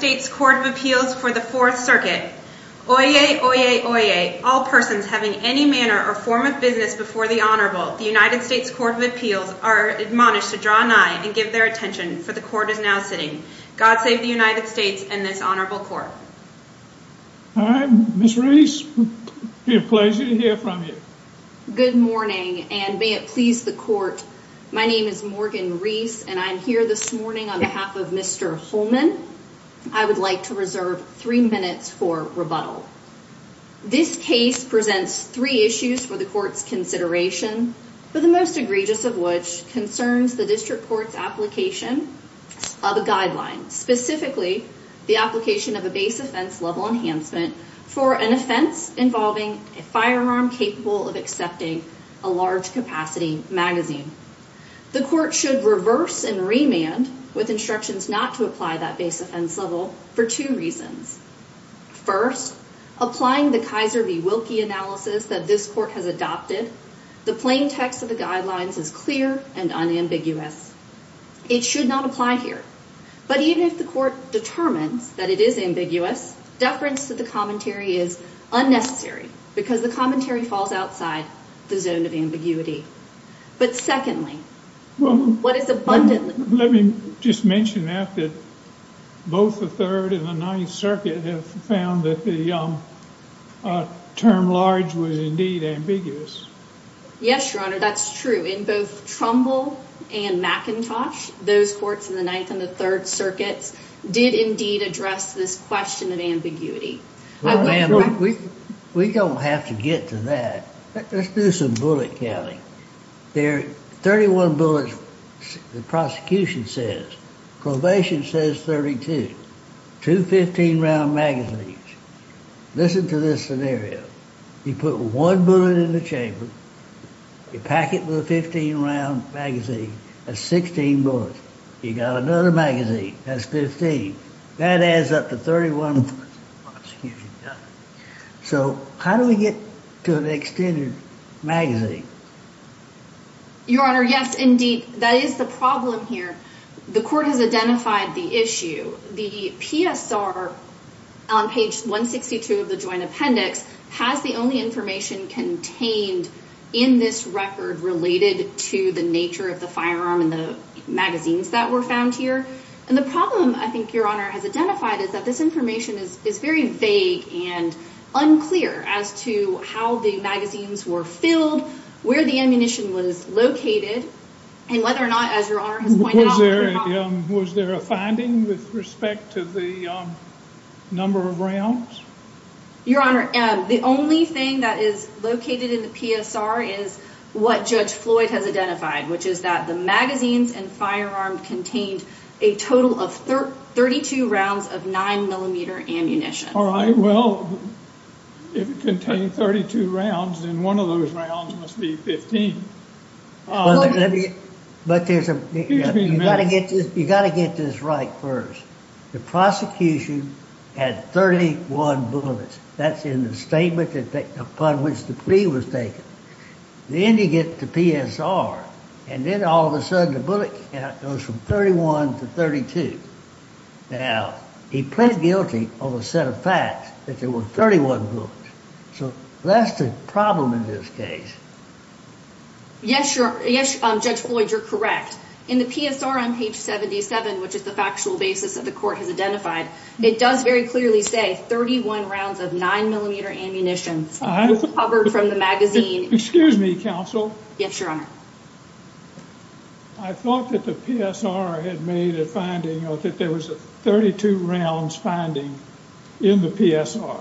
United States Court of Appeals for the 4th circuit. Oyez, oyez, oyez, all persons having any manner or form of business before the Honorable, the United States Court of Appeals are admonished to draw an eye and give their attention, for the Court is now sitting. God save the United States and this Honorable Court. All right, Ms. Reese, it will be a pleasure to hear from you. Good morning, and may it please the Court, my name is Morgan Reese, and I'm here this morning on behalf of Mr. Holman. I would like to reserve three minutes for rebuttal. This case presents three issues for the Court's consideration, but the most egregious of which concerns the District Court's application of a guideline, specifically the application of a base offense level enhancement for an offense involving a firearm capable of accepting a large capacity magazine. The Court should reverse and remand with instructions not to apply that base offense level for two reasons. First, applying the Kaiser v. Wilkie analysis that this Court has adopted, the plain text of the guidelines is clear and unambiguous. It should not apply here, but even if the Court determines that it is ambiguous, deference to the commentary is unnecessary, because the commentary falls outside the zone of ambiguity. But secondly, what is abundantly— Let me just mention that both the Third and the Ninth Circuit have found that the term large was indeed ambiguous. Yes, Your Honor, that's true. In both Trumbull and McIntosh, those courts in the Ninth and Third Circuits did indeed address this question of ambiguity. We don't have to get to that. Let's do some bullet counting. There are 31 bullets the prosecution says. Probation says 32. Two 15-round magazines. Listen to this scenario. You put one bullet in the chamber. You pack it with a 15-round magazine. That's 16 bullets. You got another magazine. That's 15. That adds up to 31 bullets. So how do we get to an extended magazine? Your Honor, yes, indeed. That is the problem here. The Court has identified the issue. The PSR on page 162 of the Joint Appendix has the only information contained in this magazine that was found here. And the problem I think Your Honor has identified is that this information is very vague and unclear as to how the magazines were filled, where the ammunition was located, and whether or not, as Your Honor has pointed out— Was there a finding with respect to the number of rounds? Your Honor, the only thing that is located in the PSR is what Judge Floyd has identified, which is that the magazines and firearm contained a total of 32 rounds of 9-millimeter ammunition. All right. Well, if it contained 32 rounds, then one of those rounds must be 15. But you got to get this right first. The prosecution had 31 bullets. That's in the statement upon which the plea was taken. Then you get to PSR, and then all of a sudden the bullet count goes from 31 to 32. Now, he pled guilty on a set of facts that there were 31 bullets. So that's the problem in this case. Yes, Judge Floyd, you're correct. In the PSR on page 77, which is the factual basis that the Court has identified, it does very clearly say 31 rounds of 9-millimeter ammunition. It's covered from the magazine. Excuse me, counsel. Yes, Your Honor. I thought that the PSR had made a finding that there was a 32 rounds finding in the PSR.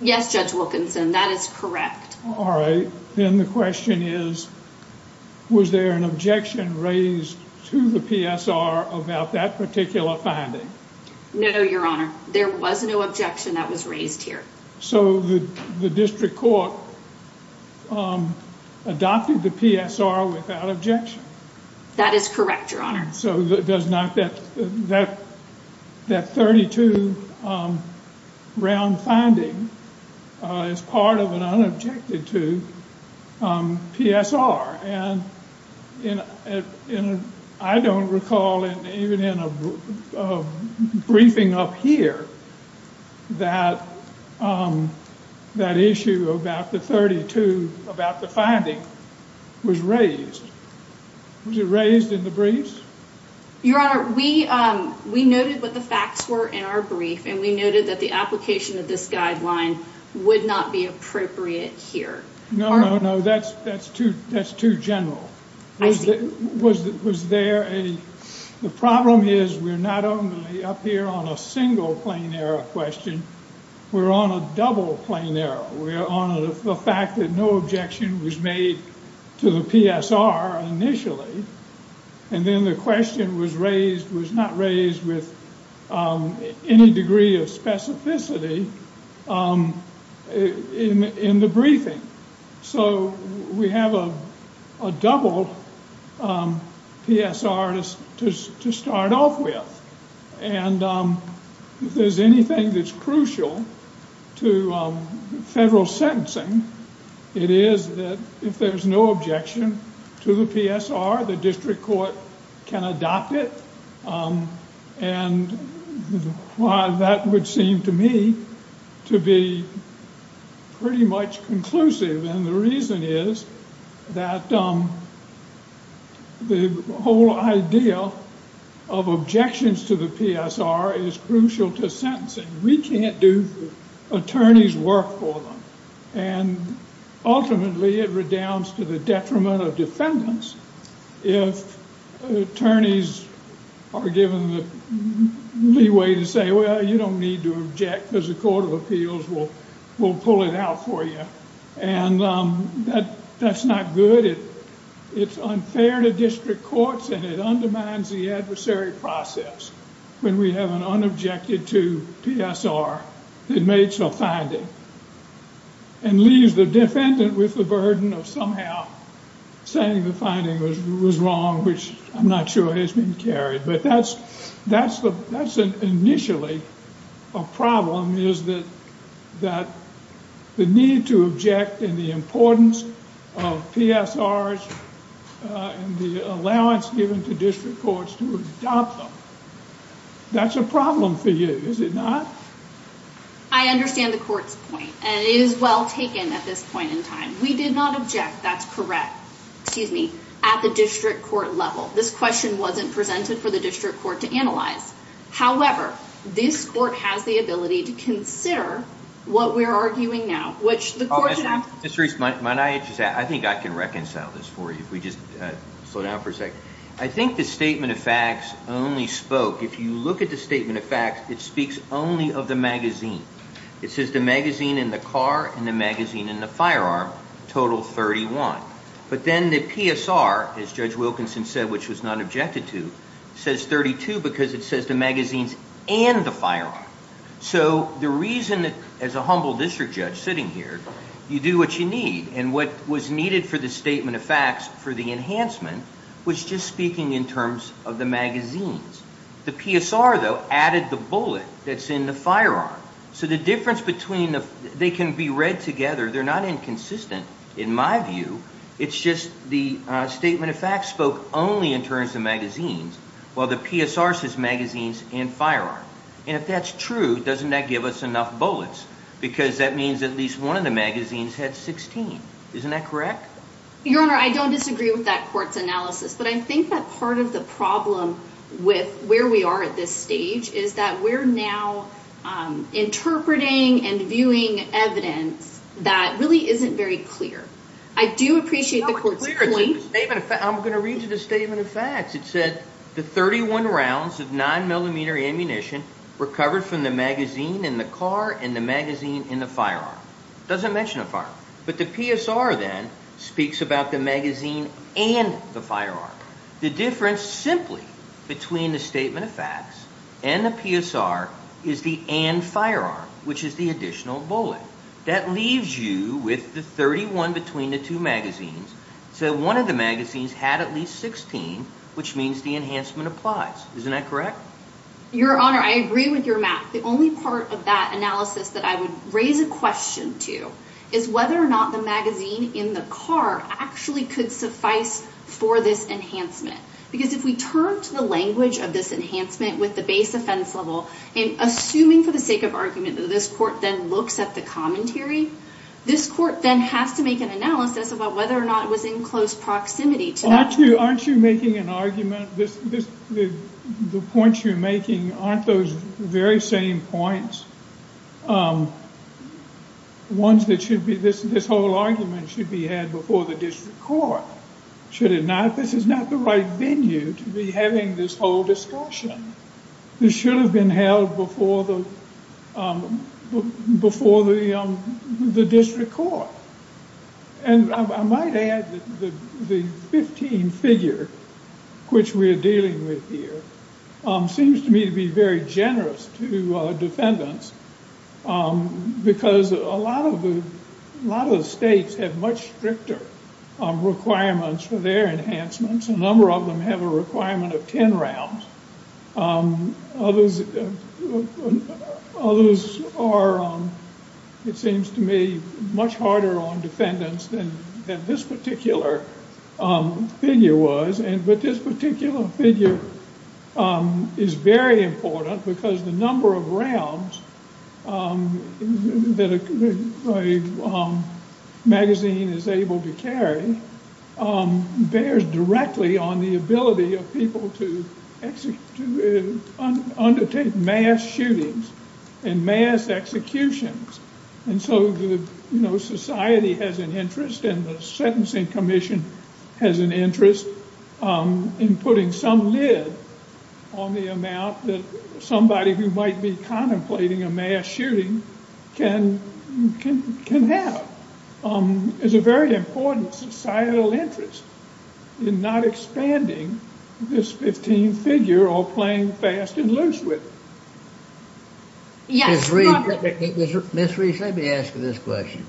Yes, Judge Wilkinson, that is correct. All right. Then the question is, was there an objection raised to the PSR about that particular finding? No, Your Honor. There was no objection that was raised here. So the district court adopted the PSR without objection? That is correct, Your Honor. So that 32-round finding is part of an unobjected to PSR. And I don't recall, even in a briefing up here, that issue about the 32, about the finding, was raised. Was it raised in the briefs? Your Honor, we noted what the facts were in our brief. And we noted that the application of this guideline would not be appropriate here. No, no, no. That's too general. Was there a... The problem is we're not only up here on a single plain error question. We're on a double plain error. We're on the fact that no objection was made to the PSR initially. And then the question was raised, was not raised with any degree of specificity in the briefing. So we have a double PSR to start off with. And if there's anything that's crucial to federal sentencing, it is that if there's no objection to the PSR, the district court can adopt it. And that would seem to me to be pretty much conclusive. And the reason is that the whole idea of objections to the PSR is crucial to sentencing. We can't do attorney's work for them. And ultimately, it redounds to the detriment of defendants if attorneys are given the leeway to say, well, you don't need to object because the Court of Appeals will pull it out for you. And that's not good. It's unfair to district courts and it undermines the adversary process when we have an unobjected to PSR that makes a finding and leaves the defendant with the burden of somehow saying the finding was wrong, which I'm not sure has been carried. But that's initially a problem, is that the need to object and the importance of PSRs and the allowance given to district courts to adopt them, that's a problem for you, is it not? I understand the court's point. And it is well taken at this point in time. We did not object, that's correct, at the district court level. This question wasn't presented for the district court to analyze. However, this court has the ability to consider what we're arguing now. Ms. Reese, might I just add, I think I can reconcile this for you, if we just slow down for a second. I think the statement of facts only spoke, if you look at the statement of facts, it speaks only of the magazine. It says the magazine in the car and the magazine in the firearm total 31. But then the PSR, as Judge Wilkinson said, which was not objected to, says 32 because it says the magazines and the firearm. So the reason, as a humble district judge sitting here, you do what you need, and what was needed for the statement of facts, for the enhancement, was just speaking in terms of the magazines. The PSR, though, added the bullet that's in the firearm. So the difference between, they can be read together, they're not inconsistent, in my view, it's just the statement of facts spoke only in terms of magazines, while the PSR says magazines and firearm. And if that's true, doesn't that give us enough bullets? Because that means at least one of the magazines had 16. Isn't that correct? Your Honor, I don't disagree with that court's analysis, but I think that part of the problem with where we are at this stage is that we're now interpreting and viewing evidence that really isn't very clear. I do appreciate the court's point. I'm going to read you the statement of facts. It said, It doesn't mention a firearm. But the PSR, then, speaks about the magazine and the firearm. The difference, simply, between the statement of facts and the PSR is the and firearm, which is the additional bullet. That leaves you with the 31 between the two magazines, so one of the magazines had at least 16, which means the enhancement applies. Isn't that correct? Your Honor, I agree with your math. The only part of that analysis that I would raise a question to is whether or not the magazine in the car actually could suffice for this enhancement. Because if we turn to the language of this enhancement with the base offense level, and assuming, for the sake of argument, that this court then looks at the commentary, this court then has to make an analysis about whether or not it was in close proximity to that. Aren't you making an argument? The points you're making aren't those very same points. This whole argument should be had before the district court. Should it not? This is not the right venue to be having this whole discussion. This should have been held before the district court. I might add that the 15 figure, which we're dealing with here, seems to me to be very generous to defendants, because a lot of the states have much stricter requirements for their enhancements. A number of them have a requirement of 10 rounds. Others are, it seems to me, much harder on defendants than this particular figure was. But this particular figure is very important, because the number of rounds that a magazine is able to carry bears directly on the ability of people to undertake mass shootings and mass executions. And so society has an interest, and the Sentencing Commission has an interest in putting some lid on the amount that somebody who might be contemplating a mass shooting can have. It's a very important societal interest in not expanding this 15 figure or playing fast and loose with it. Ms. Reese, let me ask you this question.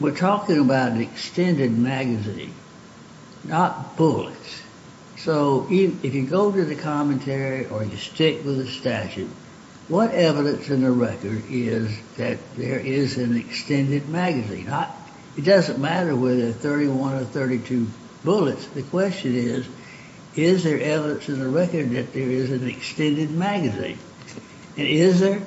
We're talking about an extended magazine, not bullets. So if you go to the commentary or you stick with the statute, what evidence in the record is that there is an extended magazine? It doesn't matter whether 31 or 32 bullets. The question is, is there evidence in the record that there is an extended magazine? And is there?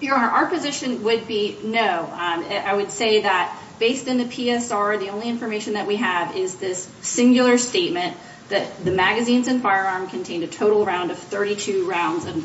Your Honor, our position would be no. I would say that based on the PSR, the only information that we have is this singular statement that the magazines and firearm contained a total round of 32 rounds of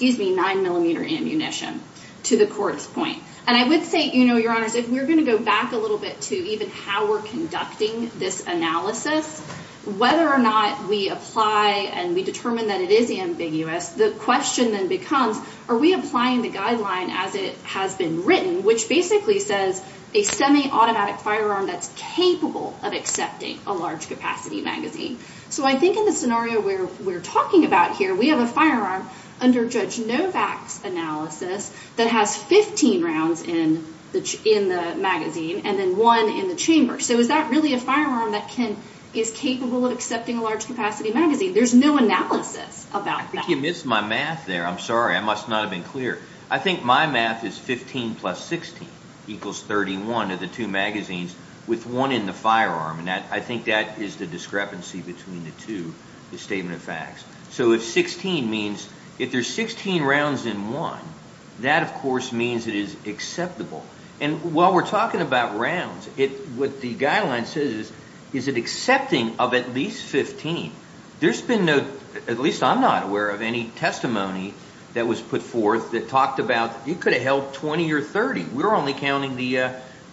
9 millimeter ammunition to the court's point. And I would say, Your Honor, if we're going to go back a little bit to even how we're conducting this analysis, whether or not we apply and we determine that it is ambiguous, the question then becomes, are we applying the guideline as it has been written, which basically says a semi-automatic firearm that's capable of accepting a large capacity magazine? So I think in the scenario where we're talking about here, we have a firearm under Judge Novak's analysis that has 15 rounds in the magazine and then one in the chamber. So is that really a firearm that is capable of accepting a large capacity magazine? There's no analysis about that. I think you missed my math there. I'm sorry. I must not have been clear. I think my math is 15 plus 16 equals 31 of the two magazines with one in the firearm. And I think that is the discrepancy between the two, the statement of facts. So if 16 means, if there's 16 rounds in one, that, of course, means it is acceptable. And while we're talking about rounds, what the guideline says is, is it accepting of at least 15? There's been no, at least I'm not aware of any testimony that was put forth that talked about, you could have held 20 or 30. We're only counting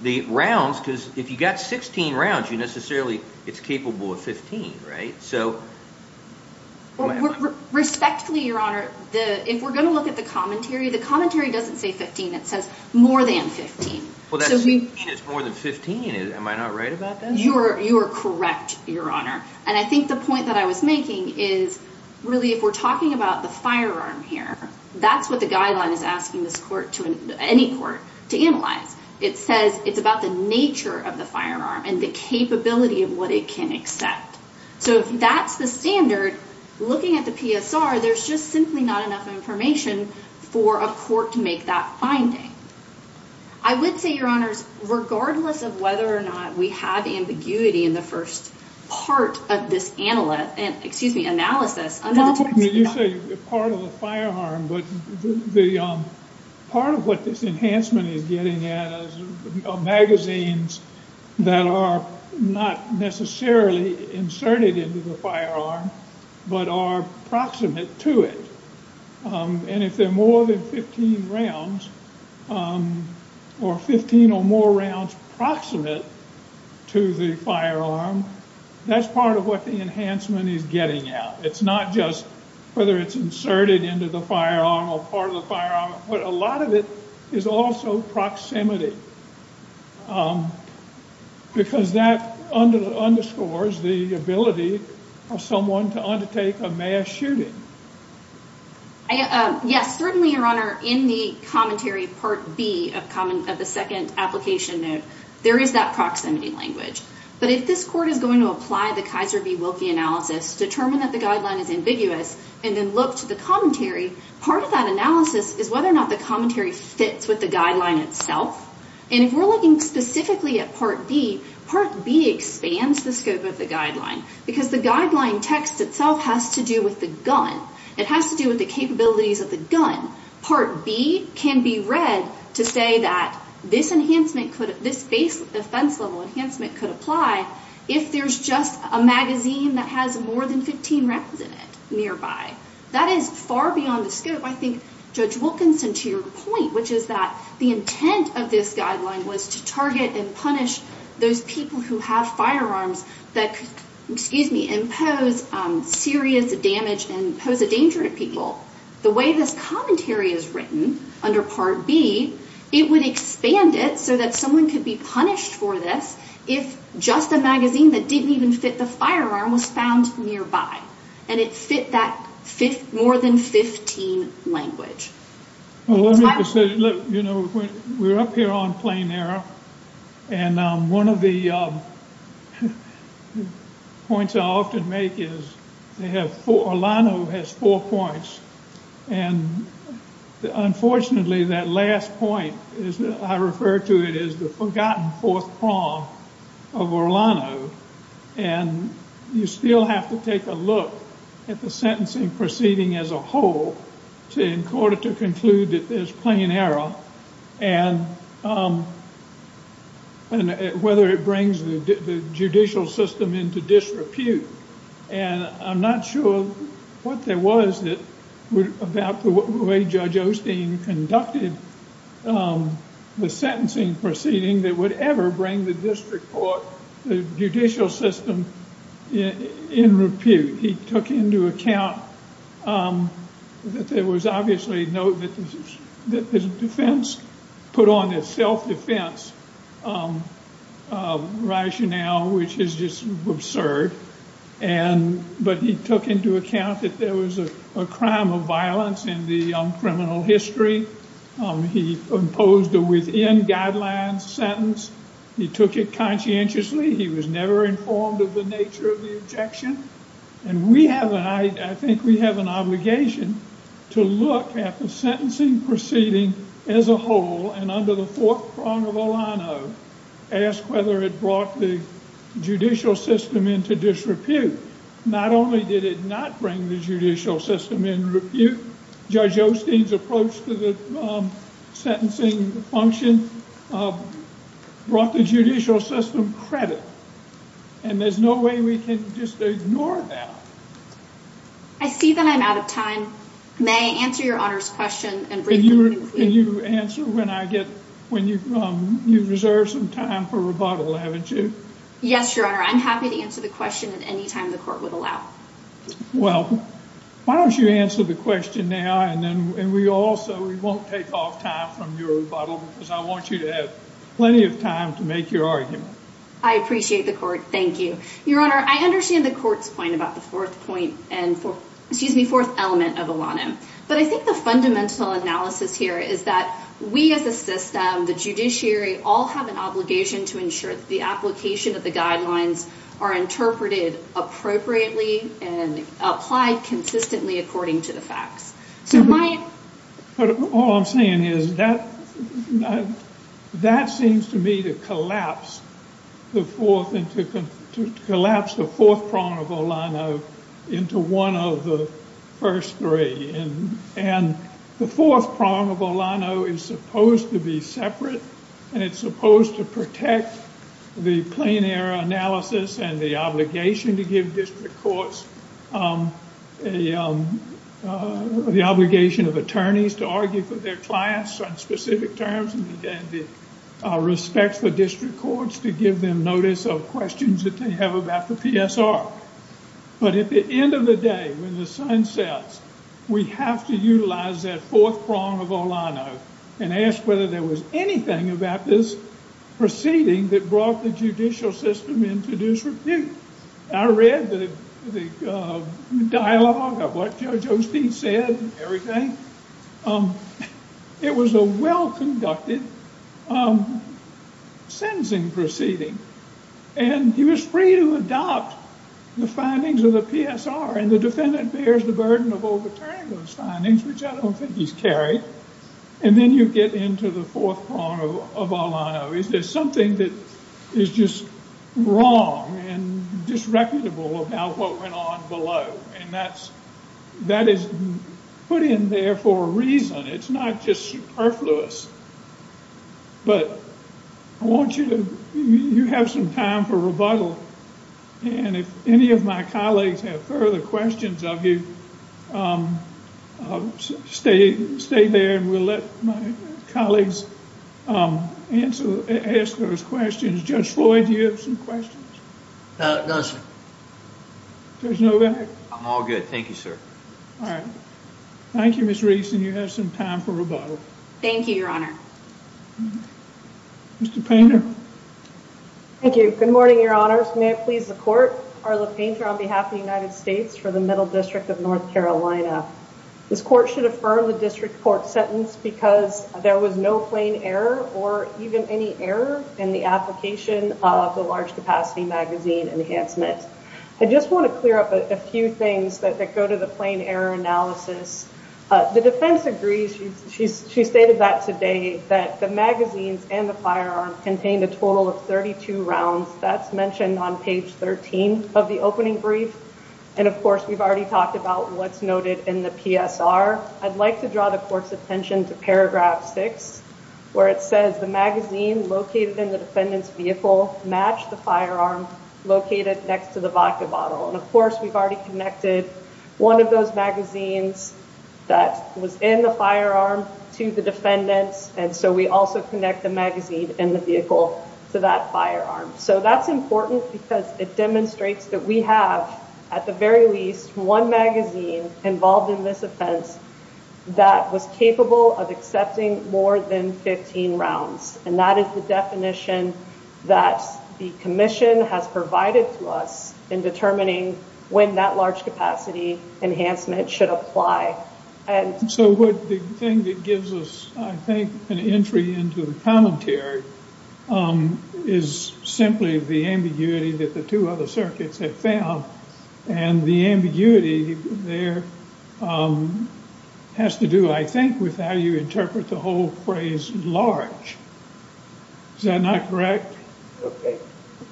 the rounds because if you got 16 rounds, you necessarily, it's capable of 15, right? So... Respectfully, Your Honor, if we're going to look at the commentary, the commentary doesn't say 15. It says more than 15. It's more than 15. Am I not right about that? You are correct, Your Honor. And I think the point that I was making is, really, if we're talking about the firearm here, that's what the guideline is asking this court, any court, to analyze. It says it's about the nature of the firearm and the capability of what it can accept. So if that's the standard, looking at the PSR, there's just simply not enough information for a court to make that finding. I would say, Your Honors, regardless of whether or not we have ambiguity in the first part of this analysis, under the terms of the guideline... You say part of the firearm, but part of what this enhancement is getting at is magazines that are not necessarily inserted into the firearm, but are proximate to it. And if they're more than 15 rounds, or 15 or more rounds proximate to the firearm, that's part of what the enhancement is getting at. It's not just whether it's inserted into the firearm or part of the firearm. But a lot of it is also proximity. Because that underscores the ability of someone to undertake a mass shooting. Yes, certainly, Your Honor, in the commentary part B of the second application note, there is that proximity language. But if this court is going to apply the Kaiser v. Wilkie analysis, determine that the guideline is ambiguous, and then look to the commentary, part of that analysis is whether or not the commentary fits with the guideline itself. And if we're looking specifically at part B, part B expands the scope of the guideline. Because the guideline text itself has to do with the gun. It has to do with the capabilities of the gun. Part B can be read to say that this base defense level enhancement could apply if there's just a magazine that has more than 15 rounds in it nearby. That is far beyond the scope. I think, Judge Wilkinson, to your point, which is that the intent of this guideline was to target and punish those people who have firearms that could impose serious damage and pose a danger to people. The way this commentary is written under part B, it would expand it so that someone could be punished for this if just a magazine that didn't even fit the firearm was found nearby. And it fit that more than 15 language. Well, let me just say, you know, we're up here on plain error. And one of the points I often make is Orlano has four points. And unfortunately, that last point, I refer to it as the forgotten fourth prong of Orlano. And you still have to take a look at the sentencing proceeding as a whole in court to conclude that there's plain error and whether it brings the judicial system into disrepute. And I'm not sure what there was about the way Judge Osteen conducted the sentencing proceeding that would ever bring the district court, the judicial system, in repute. He took into account that there was obviously no defense, put on a self-defense rationale, which is just absurd. But he took into account that there was a crime of violence in the criminal history. He imposed a within guidelines sentence. He took it conscientiously. He was never informed of the nature of the objection. And I think we have an obligation to look at the sentencing proceeding as a whole and under the fourth prong of Orlano ask whether it brought the judicial system into disrepute. Not only did it not bring the judicial system in repute, Judge Osteen's approach to the sentencing function brought the And there's no way we can just ignore that. I see that I'm out of time. May I answer Your Honor's question and briefly conclude? Can you answer when I get, when you reserve some time for rebuttal, haven't you? Yes, Your Honor. I'm happy to answer the question at any time the court would allow. Well, why don't you answer the question now and we also, we won't take off time from your rebuttal because I want you to have plenty of time to make your argument. I appreciate the court. Thank you. Your Honor, I understand the court's point about the fourth point and excuse me, fourth element of Orlano. But I think the fundamental analysis here is that we as a system, the judiciary, all have an obligation to ensure that the application of the guidelines are interpreted appropriately and applied consistently according to the facts. But all I'm saying is that that seems to me to collapse the fourth, to collapse the fourth prong of Orlano into one of the first three and the fourth prong of Orlano is supposed to be separate and it's supposed to protect the plain error analysis and the obligation to give district courts a obligation of attorneys to argue for their clients on specific terms and the respect for district courts to give them notice of questions that they have about the PSR. But at the end of the day, when the sun sets, we have to utilize that fourth prong of Orlano and ask whether there was anything about this proceeding that brought the judicial system into disrepute. I read the dialogue of what Judge Osteen said and everything. It was a well-conducted sentencing proceeding and he was free to adopt the findings of the PSR and the defendant bears the burden of overturning those findings, which I don't think he's carried. And then you get into the fourth prong of Orlano. Is there something that is just wrong and disreputable of how what went on below and that is put in there for a reason. It's not just superfluous. But I want you to have some time for rebuttal and if any of my colleagues have further questions of you, stay there and we'll let my colleagues ask those questions. Judge Floyd, do you have some questions? No, sir. There's no... I'm all good. Thank you, sir. Thank you, Ms. Rees. And you have some time for rebuttal. Thank you, Your Honor. Mr. Painter. Thank you. Good morning, Your Honors. May it please the Court, Carla Painter on behalf of the United States for the Middle District of North Carolina. This Court should affirm the District Court's sentence because there was no plain error or even any error in the application of the large capacity magazine enhancement. I just want to clear up a few things that go to the plain error analysis. The defense agrees. She stated that today that the magazines and the firearm contained a total of 32 rounds. That's mentioned on page 13 of the opening brief. And of course, we've already talked about what's noted in the PSR. I'd like to draw the Court's attention to paragraph 6 where it says the magazine located in the defendant's vehicle matched the firearm located next to the vodka bottle. And of course, we've already connected one of those magazines that was in the firearm to the defendant. And so we also connect the magazine in the vehicle to that firearm. So that's important because it demonstrates that we have, at the very least, one magazine involved in this offense that was capable of accepting more than 15 rounds. And that is the definition that the Commission has provided to us in determining when that large capacity enhancement should apply. So the thing that gives us, I think, an entry into the commentary is simply the ambiguity that the two other circuits have found. And the ambiguity there has to do, I think, with how you interpret the whole phrase, large. Is that not correct? Okay.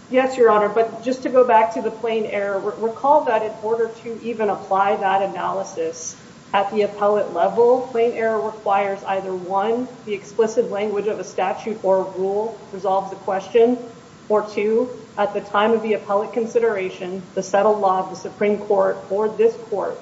Yes, Your Honor. But just to go back to the plain error, recall that in order to even apply that analysis at the appellate level, plain error requires either, one, the explicit language of a statute or rule resolves the question, or two, at the time of the appellate consideration, the settled law of the Supreme Court or this Court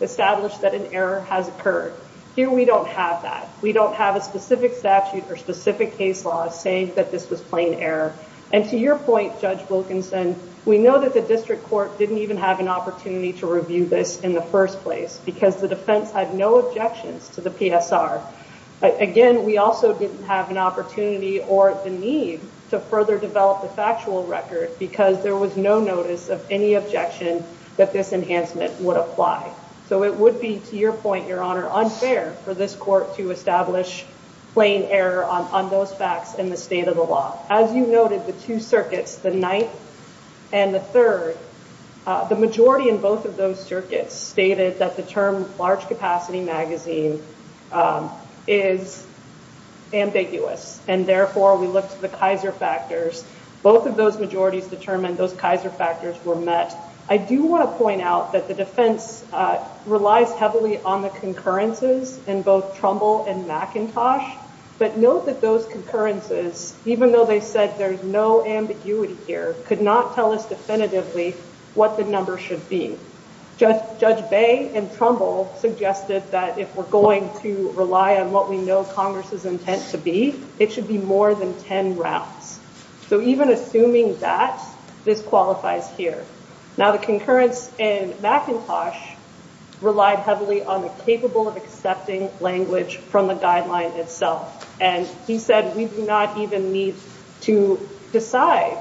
established that an error has occurred. Here we don't have that. We don't have a specific statute or specific case law saying that this was plain error. And to your point, Judge Wilkinson, we know that the District Court didn't even have an opportunity to review this in the first place because the defense had no objections to the PSR. Again, we also didn't have an opportunity or the need to further develop the factual record because there was no notice of any objection that this enhancement would apply. So it would be, to your point, Your Honor, unfair for this Court to establish plain error on those facts in the state of the law. As you noted, the two circuits, the Ninth and the Third, the majority in both of those circuits stated that the term large capacity magazine is ambiguous, and therefore we looked at the Kaiser factors. Both of those majorities determined those Kaiser factors were met. I do want to point out that the defense relies heavily on the concurrences in both Trumbull and McIntosh, but note that those concurrences, even though they said there's no ambiguity here, could not tell us definitively what the number should be. Judge Bay and Trumbull suggested that if we're going to rely on what we know Congress's intent to be, it should be more than ten rounds. So even assuming that, this qualifies here. Now the concurrence in McIntosh relied heavily on the capable of accepting language from the guideline itself, and he said we do not even need to decide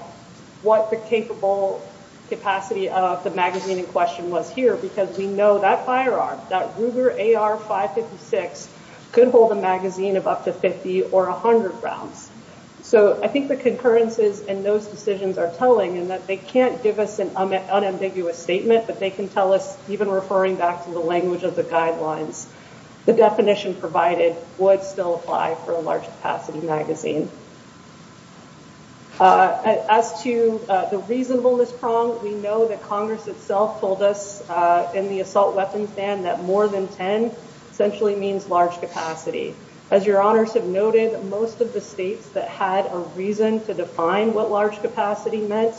what the capable capacity of the magazine in question was here, because we know that firearm, that Ruger AR-556, could hold a magazine of up to 50 or 100 rounds. So I think the concurrences in those decisions are telling in that they can't give us an unambiguous statement, but they can tell us, even referring back to the language of the guidelines, the definition provided would still apply for a large capacity magazine. As to the reasonableness prong, we know that Congress itself told us in the assault weapons ban that more than ten essentially means large capacity. As your honors have noted, most of the states that had a reason to define what large capacity meant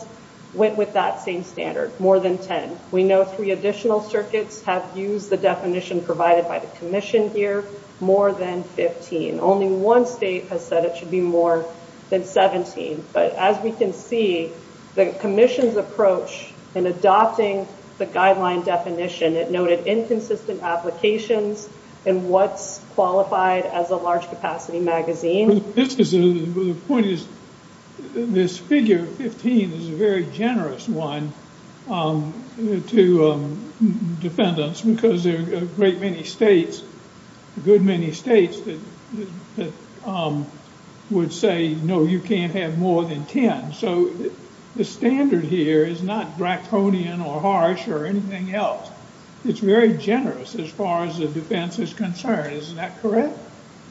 went with that same standard, more than ten. We know three additional circuits have used the definition provided by the commission here, more than fifteen. Only one state has said it should be more than seventeen, but as we can see, the commission's approach in adopting the guideline definition, it noted inconsistent applications and what's qualified as a large capacity magazine. The point is this figure of fifteen is a very generous one to defendants because there are a great many states, a good many states, that would say, no, you can't have more than ten. So, the standard here is not draconian or harsh or anything else. It's very generous as far as the defense is concerned. Isn't that correct?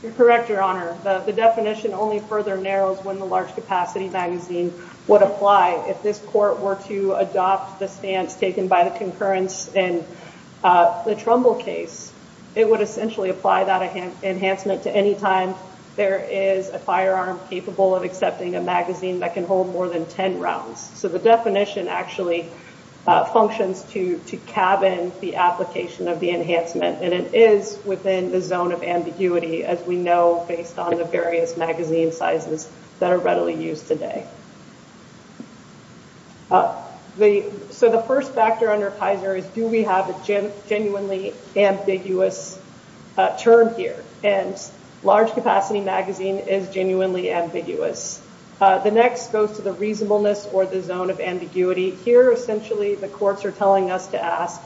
You're correct, your honor. The definition only further narrows when the large capacity magazine would apply. If this court were to adopt the stance taken by the concurrence in the Trumbull case, it would essentially apply that enhancement to any time there is a firearm capable of accepting a magazine that can hold more than ten rounds. So, the definition actually functions to cabin the application of the enhancement and it is within the zone of ambiguity as we know based on the various magazine sizes that are readily used today. So, the first factor under Kaiser is do we have a genuinely ambiguous term here and large capacity magazine is genuinely ambiguous. The next goes to the reasonableness or the zone of ambiguity. Here, essentially the courts are telling us to ask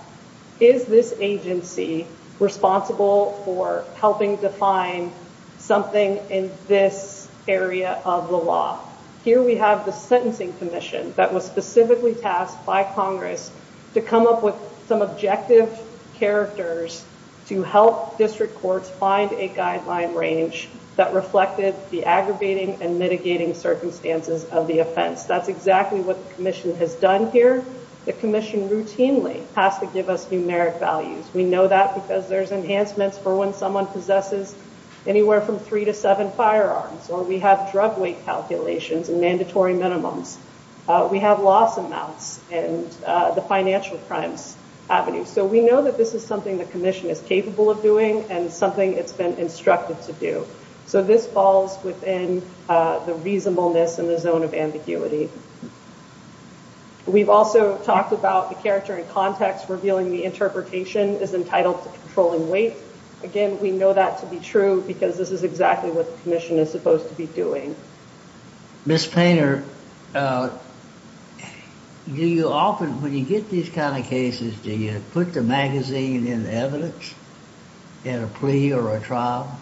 is this agency responsible for helping define something in this area of the law? Here we have the sentencing commission that was specifically tasked by Congress to come up with some objective characters to help district courts find a guideline range that reflected the aggravating and mitigating circumstances of the offense. That's exactly what the commission has done here. The commission has given us numeric values. We know that because there's enhancements for when someone possesses anywhere from three to seven firearms or we have drug weight calculations and mandatory minimums. We have loss amounts and the financial crimes avenues. So, we know that this is something the commission is capable of doing and something it's been instructed to do. So, this falls within the reasonableness and the zone of ambiguity. We've also talked about the character and context revealing the interpretation is entitled to controlling weight. Again, we know that to be true because this is exactly what the commission is supposed to be doing. Ms. Painter, do you often, when you get these kind of cases, do you put the magazine in evidence in a plea or a trial?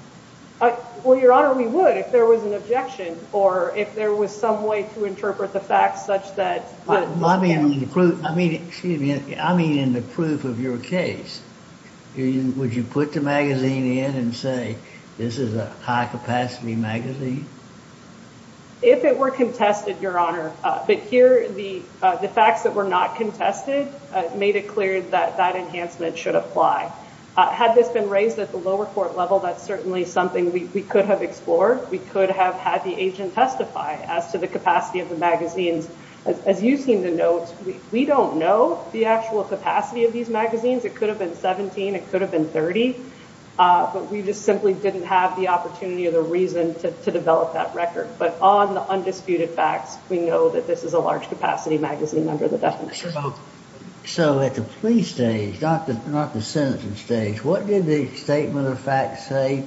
Well, Your Honor, we would if there was an objection or if there was some way to interpret the facts such that... I mean, excuse me, I mean in the proof of your case. Would you put the magazine in and say, this is a high capacity magazine? If it were contested, Your Honor, but here the facts that were not contested made it clear that that enhancement should apply. Had this been raised at the lower court level, that's certainly something we could have explored. We could have had the agent testify as to the capacity of the magazines. As you seem to note, we don't know the actual capacity of these magazines. It could have been 17, it could have been 30, but we just simply didn't have the opportunity or the reason to develop that record. But on the undisputed facts, we know that this is a large capacity magazine under the definition. So at the plea stage, not the sentencing stage, what did the statement of facts say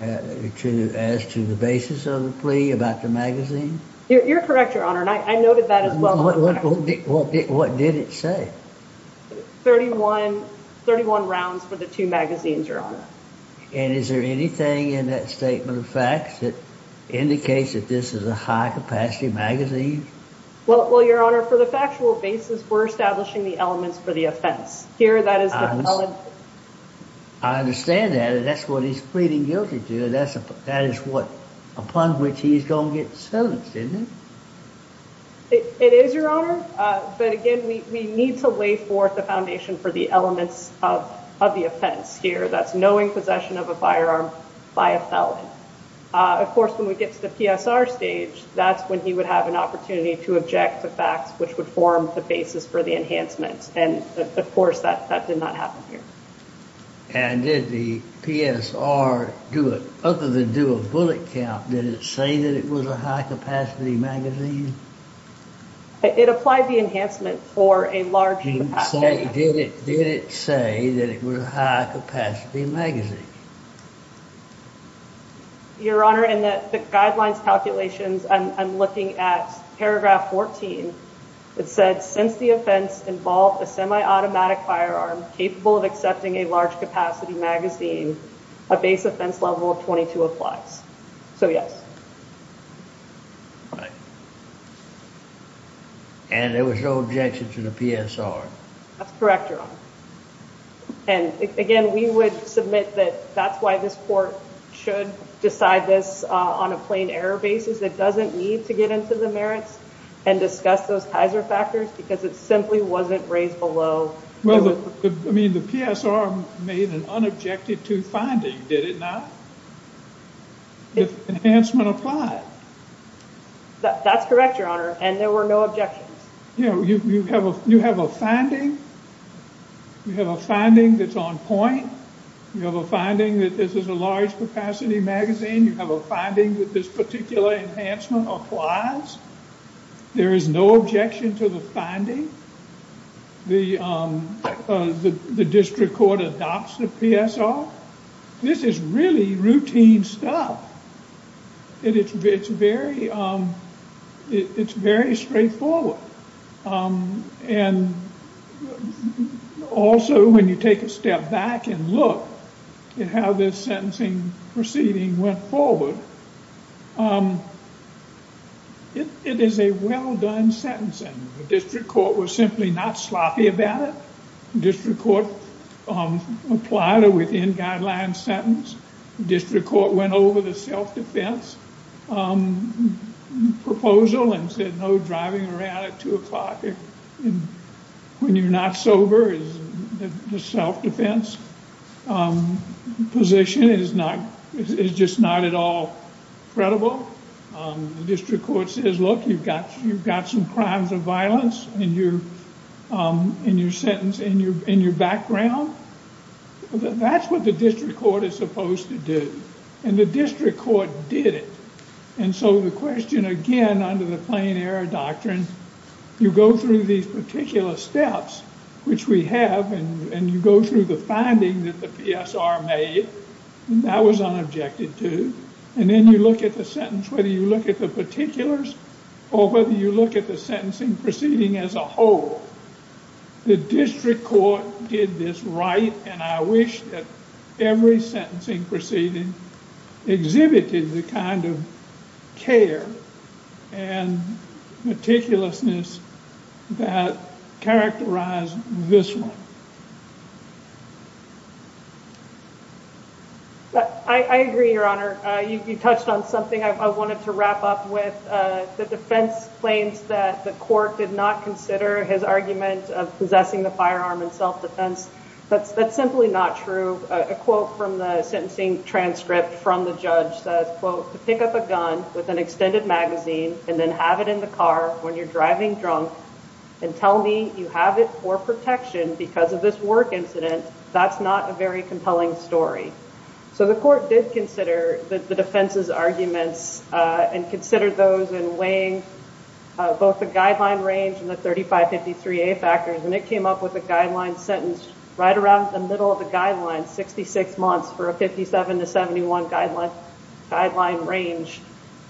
as to the basis of the plea about the magazine? You're correct, Your Honor, and I noted that as well. What did it say? 31 rounds for the two magazines, Your Honor. And is there anything in that statement of facts that indicates that this is a high capacity magazine? Well, Your Honor, for the factual basis, we're establishing the elements for the offense. I understand that. That's what he's pleading guilty to. That is what, upon which he's going to get sentenced, isn't it? It is, Your Honor, but again, we need to lay forth the foundation for the elements of the offense here. That's knowing possession of a firearm by a felon. Of course, when we get to the PSR stage, that's when he would have an opportunity to object to facts which would form the basis for the enhancements. Of course, that did not happen here. And did the PSR, other than do a bullet count, did it say that it was a high capacity magazine? It applied the enhancement for a large capacity magazine. Did it say that it was a high capacity magazine? Your Honor, in the guidelines calculations, I'm looking at paragraph 14. It said, since the offense involved a semi-automatic firearm capable of accepting a large capacity magazine, a base offense level of 22 applies. So, yes. Right. And there was no objection to the PSR. That's correct, Your Honor. And again, we would submit that that's why this court should decide this on a plain error basis. It doesn't need to get into the merits and discuss those Kaiser factors because it simply wasn't raised below. I mean, the PSR made an unobjected to finding. Did it not? Did the enhancement apply? That's correct, Your Honor. And there were no objections. You have a finding. You have a finding that's on point. You have a finding that this is a large capacity magazine. You have a finding that this particular enhancement applies. There is no objection to the finding. The district court adopts the PSR. This is really routine stuff. It's very straightforward. And also, when you take a step back and look at how this sentencing proceeding went forward, it is a well done sentencing. The district court was simply not sloppy about it. District court applied a within guidelines sentence. District court went over the self-defense proposal and said no driving around at 2 o'clock when you're not sober. The self-defense position is just not at all credible. District court says, look, you've got some crimes of violence in your background. That's what the district court is supposed to do. And the district court did it. And so the question, again, under the plain error doctrine, you go through these particular steps, which we have, and you go through the finding that the PSR made. That was unobjected to. And then you look at the sentence, whether you look at the particulars or whether you look at the sentencing proceeding as a whole. The district court did this right, and I wish that every sentencing proceeding exhibited the kind of care and meticulousness that characterized this one. I agree, Your Honor. You touched on something. I wanted to wrap up with the defense claims that the court did not consider his argument of possessing the firearm in self-defense. That's simply not true. A quote from the sentencing transcript from the judge says, quote, to pick up a gun with an extended magazine and then have it in the car when you're driving drunk and tell me you have it for protection because of this work incident, that's not a very compelling story. So the court did consider the defense's arguments and considered those in weighing both the guideline range and the 3553A factors and it came up with a guideline sentence right around the middle of the guideline, 66 months for a 57 to 71 guideline range.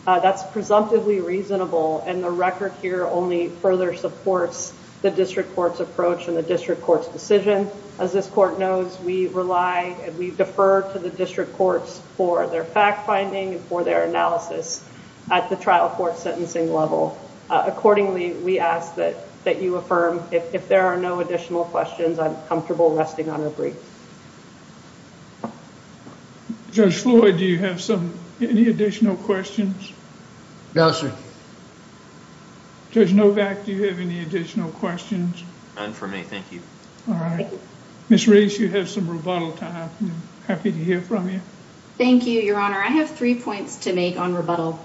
That's presumptively reasonable and the record here only further supports the district court's approach and the district court knows we rely and we defer to the district courts for their fact-finding and for their analysis at the trial court sentencing level. Accordingly, we ask that you affirm if there are no additional questions, I'm comfortable resting on a brief. Judge Floyd, do you have any additional questions? No, sir. Judge Novak, do you have any additional questions? None for me, thank you. Ms. Reese, you have some rebuttal time. Happy to hear from you. Thank you, Your Honor. I have three points to make on rebuttal.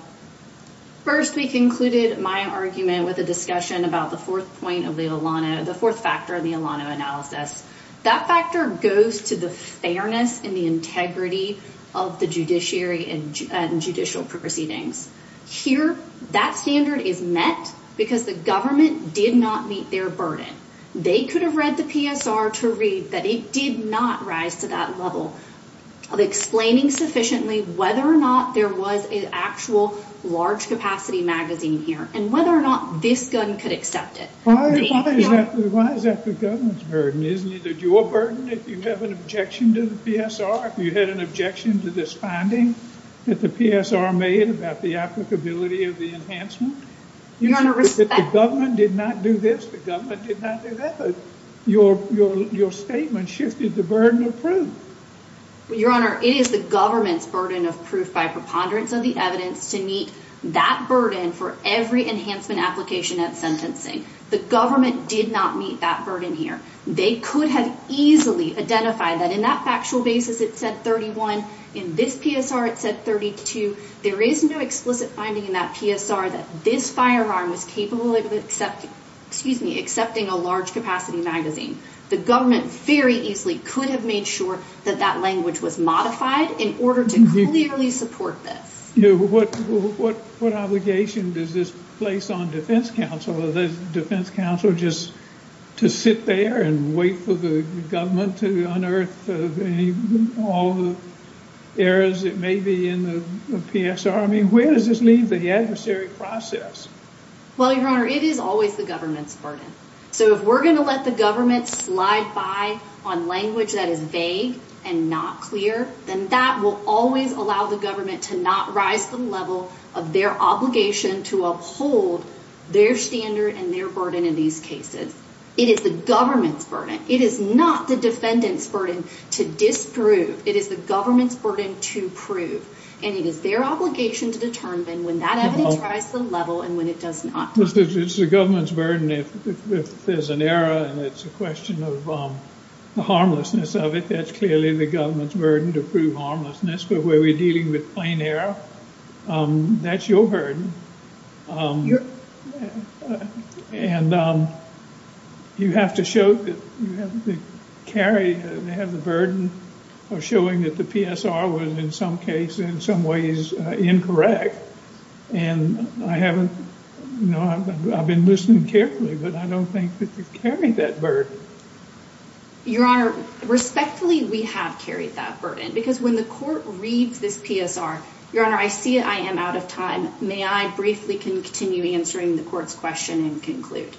First, we concluded my argument with a discussion about the fourth point of the Alano, the fourth factor of the Alano analysis. That factor goes to the fairness and the integrity of the judiciary and judicial proceedings. Here, that standard is met because the government did not meet their burden. They could have read the PSR to read that it did not rise to that level of explaining sufficiently whether or not there was an actual large-capacity magazine here and whether or not this gun could accept it. Why is that the government's burden? Isn't it your burden if you have an objection to the PSR? If you had an objection to this finding that the PSR made about the applicability of the enhancement? The government did not do this. The government did not do that. Your statement shifted the burden of proof. Your Honor, it is the government's burden of proof by preponderance of the evidence to meet that burden for every enhancement application at sentencing. The government did not meet that burden here. They could have easily identified that in that factual basis, it said 31. In this PSR, it said 32. There is no explicit finding in that PSR that this firearm was capable of accepting a large-capacity magazine. The government very easily could have made sure that that language was modified in order to clearly support this. What obligation does this place on defense counsel? Is it defense counsel just to sit there and wait for the government to unearth all the errors that may be in the PSR? Where does this leave the adversary process? Your Honor, it is always the government's burden. If we're going to let the government slide by on language that is vague and not clear, then that will always allow the government to not rise to the level of their obligation to uphold their standard and their burden in these cases. It is the government's burden. It is not the defendant's burden to disprove. It is the government's burden to prove. And it is their obligation to determine when that evidence rises to the level and when it does not. It's the government's burden if there's an error and it's a question of the harmlessness of it, that's clearly the government's burden to prove harmlessness. But when we're dealing with plain error, that's your burden. You have to show that you have to carry and have the burden of showing that the PSR was in some case, in some ways, incorrect. And I haven't I've been listening carefully, but I don't think that you've carried that burden. Your Honor, respectfully, we have carried that burden. Because when the court reads this PSR, Your Honor, I see I am out of time. May I briefly continue answering the court's question and conclude?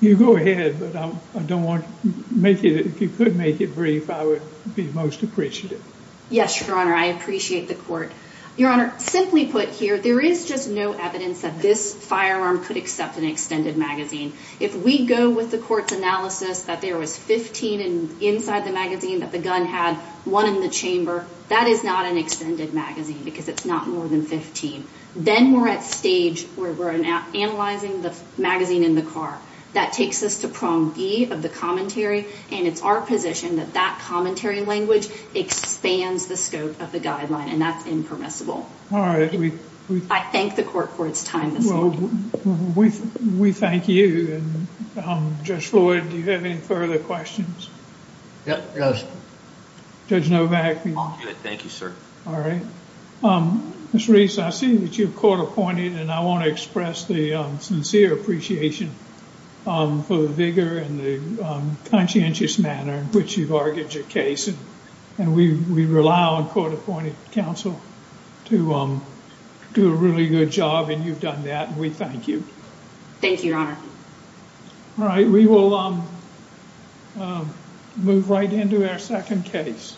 You go ahead, but I don't want to make it if you could make it brief, I would be most appreciative. Yes, Your Honor, I appreciate the court. Your Honor, simply put here, there is just no evidence that this firearm could accept an extended magazine. If we go with the court's analysis that there was 15 inside the magazine that the gun had, one in the chamber, that is not an extended magazine because it's not more than 15. Then we're at stage where we're analyzing the magazine in the car. That takes us to prong E of the commentary and it's our position that that commentary language expands the scope of the guideline, and that's impermissible. All right, we I thank the court for its time this morning. We thank you. Judge Floyd, do you have any further questions? Yes. Judge Novak. Thank you, sir. All right. Ms. Reese, I see that you're court-appointed, and I want to express the sincere appreciation for the vigor and the conscientious manner in which you've argued your case. We rely on court-appointed counsel to do a really good job, and you've done that, and we thank you. Thank you, Your Honor. All right, we will move right into our second case. Court is adjourned.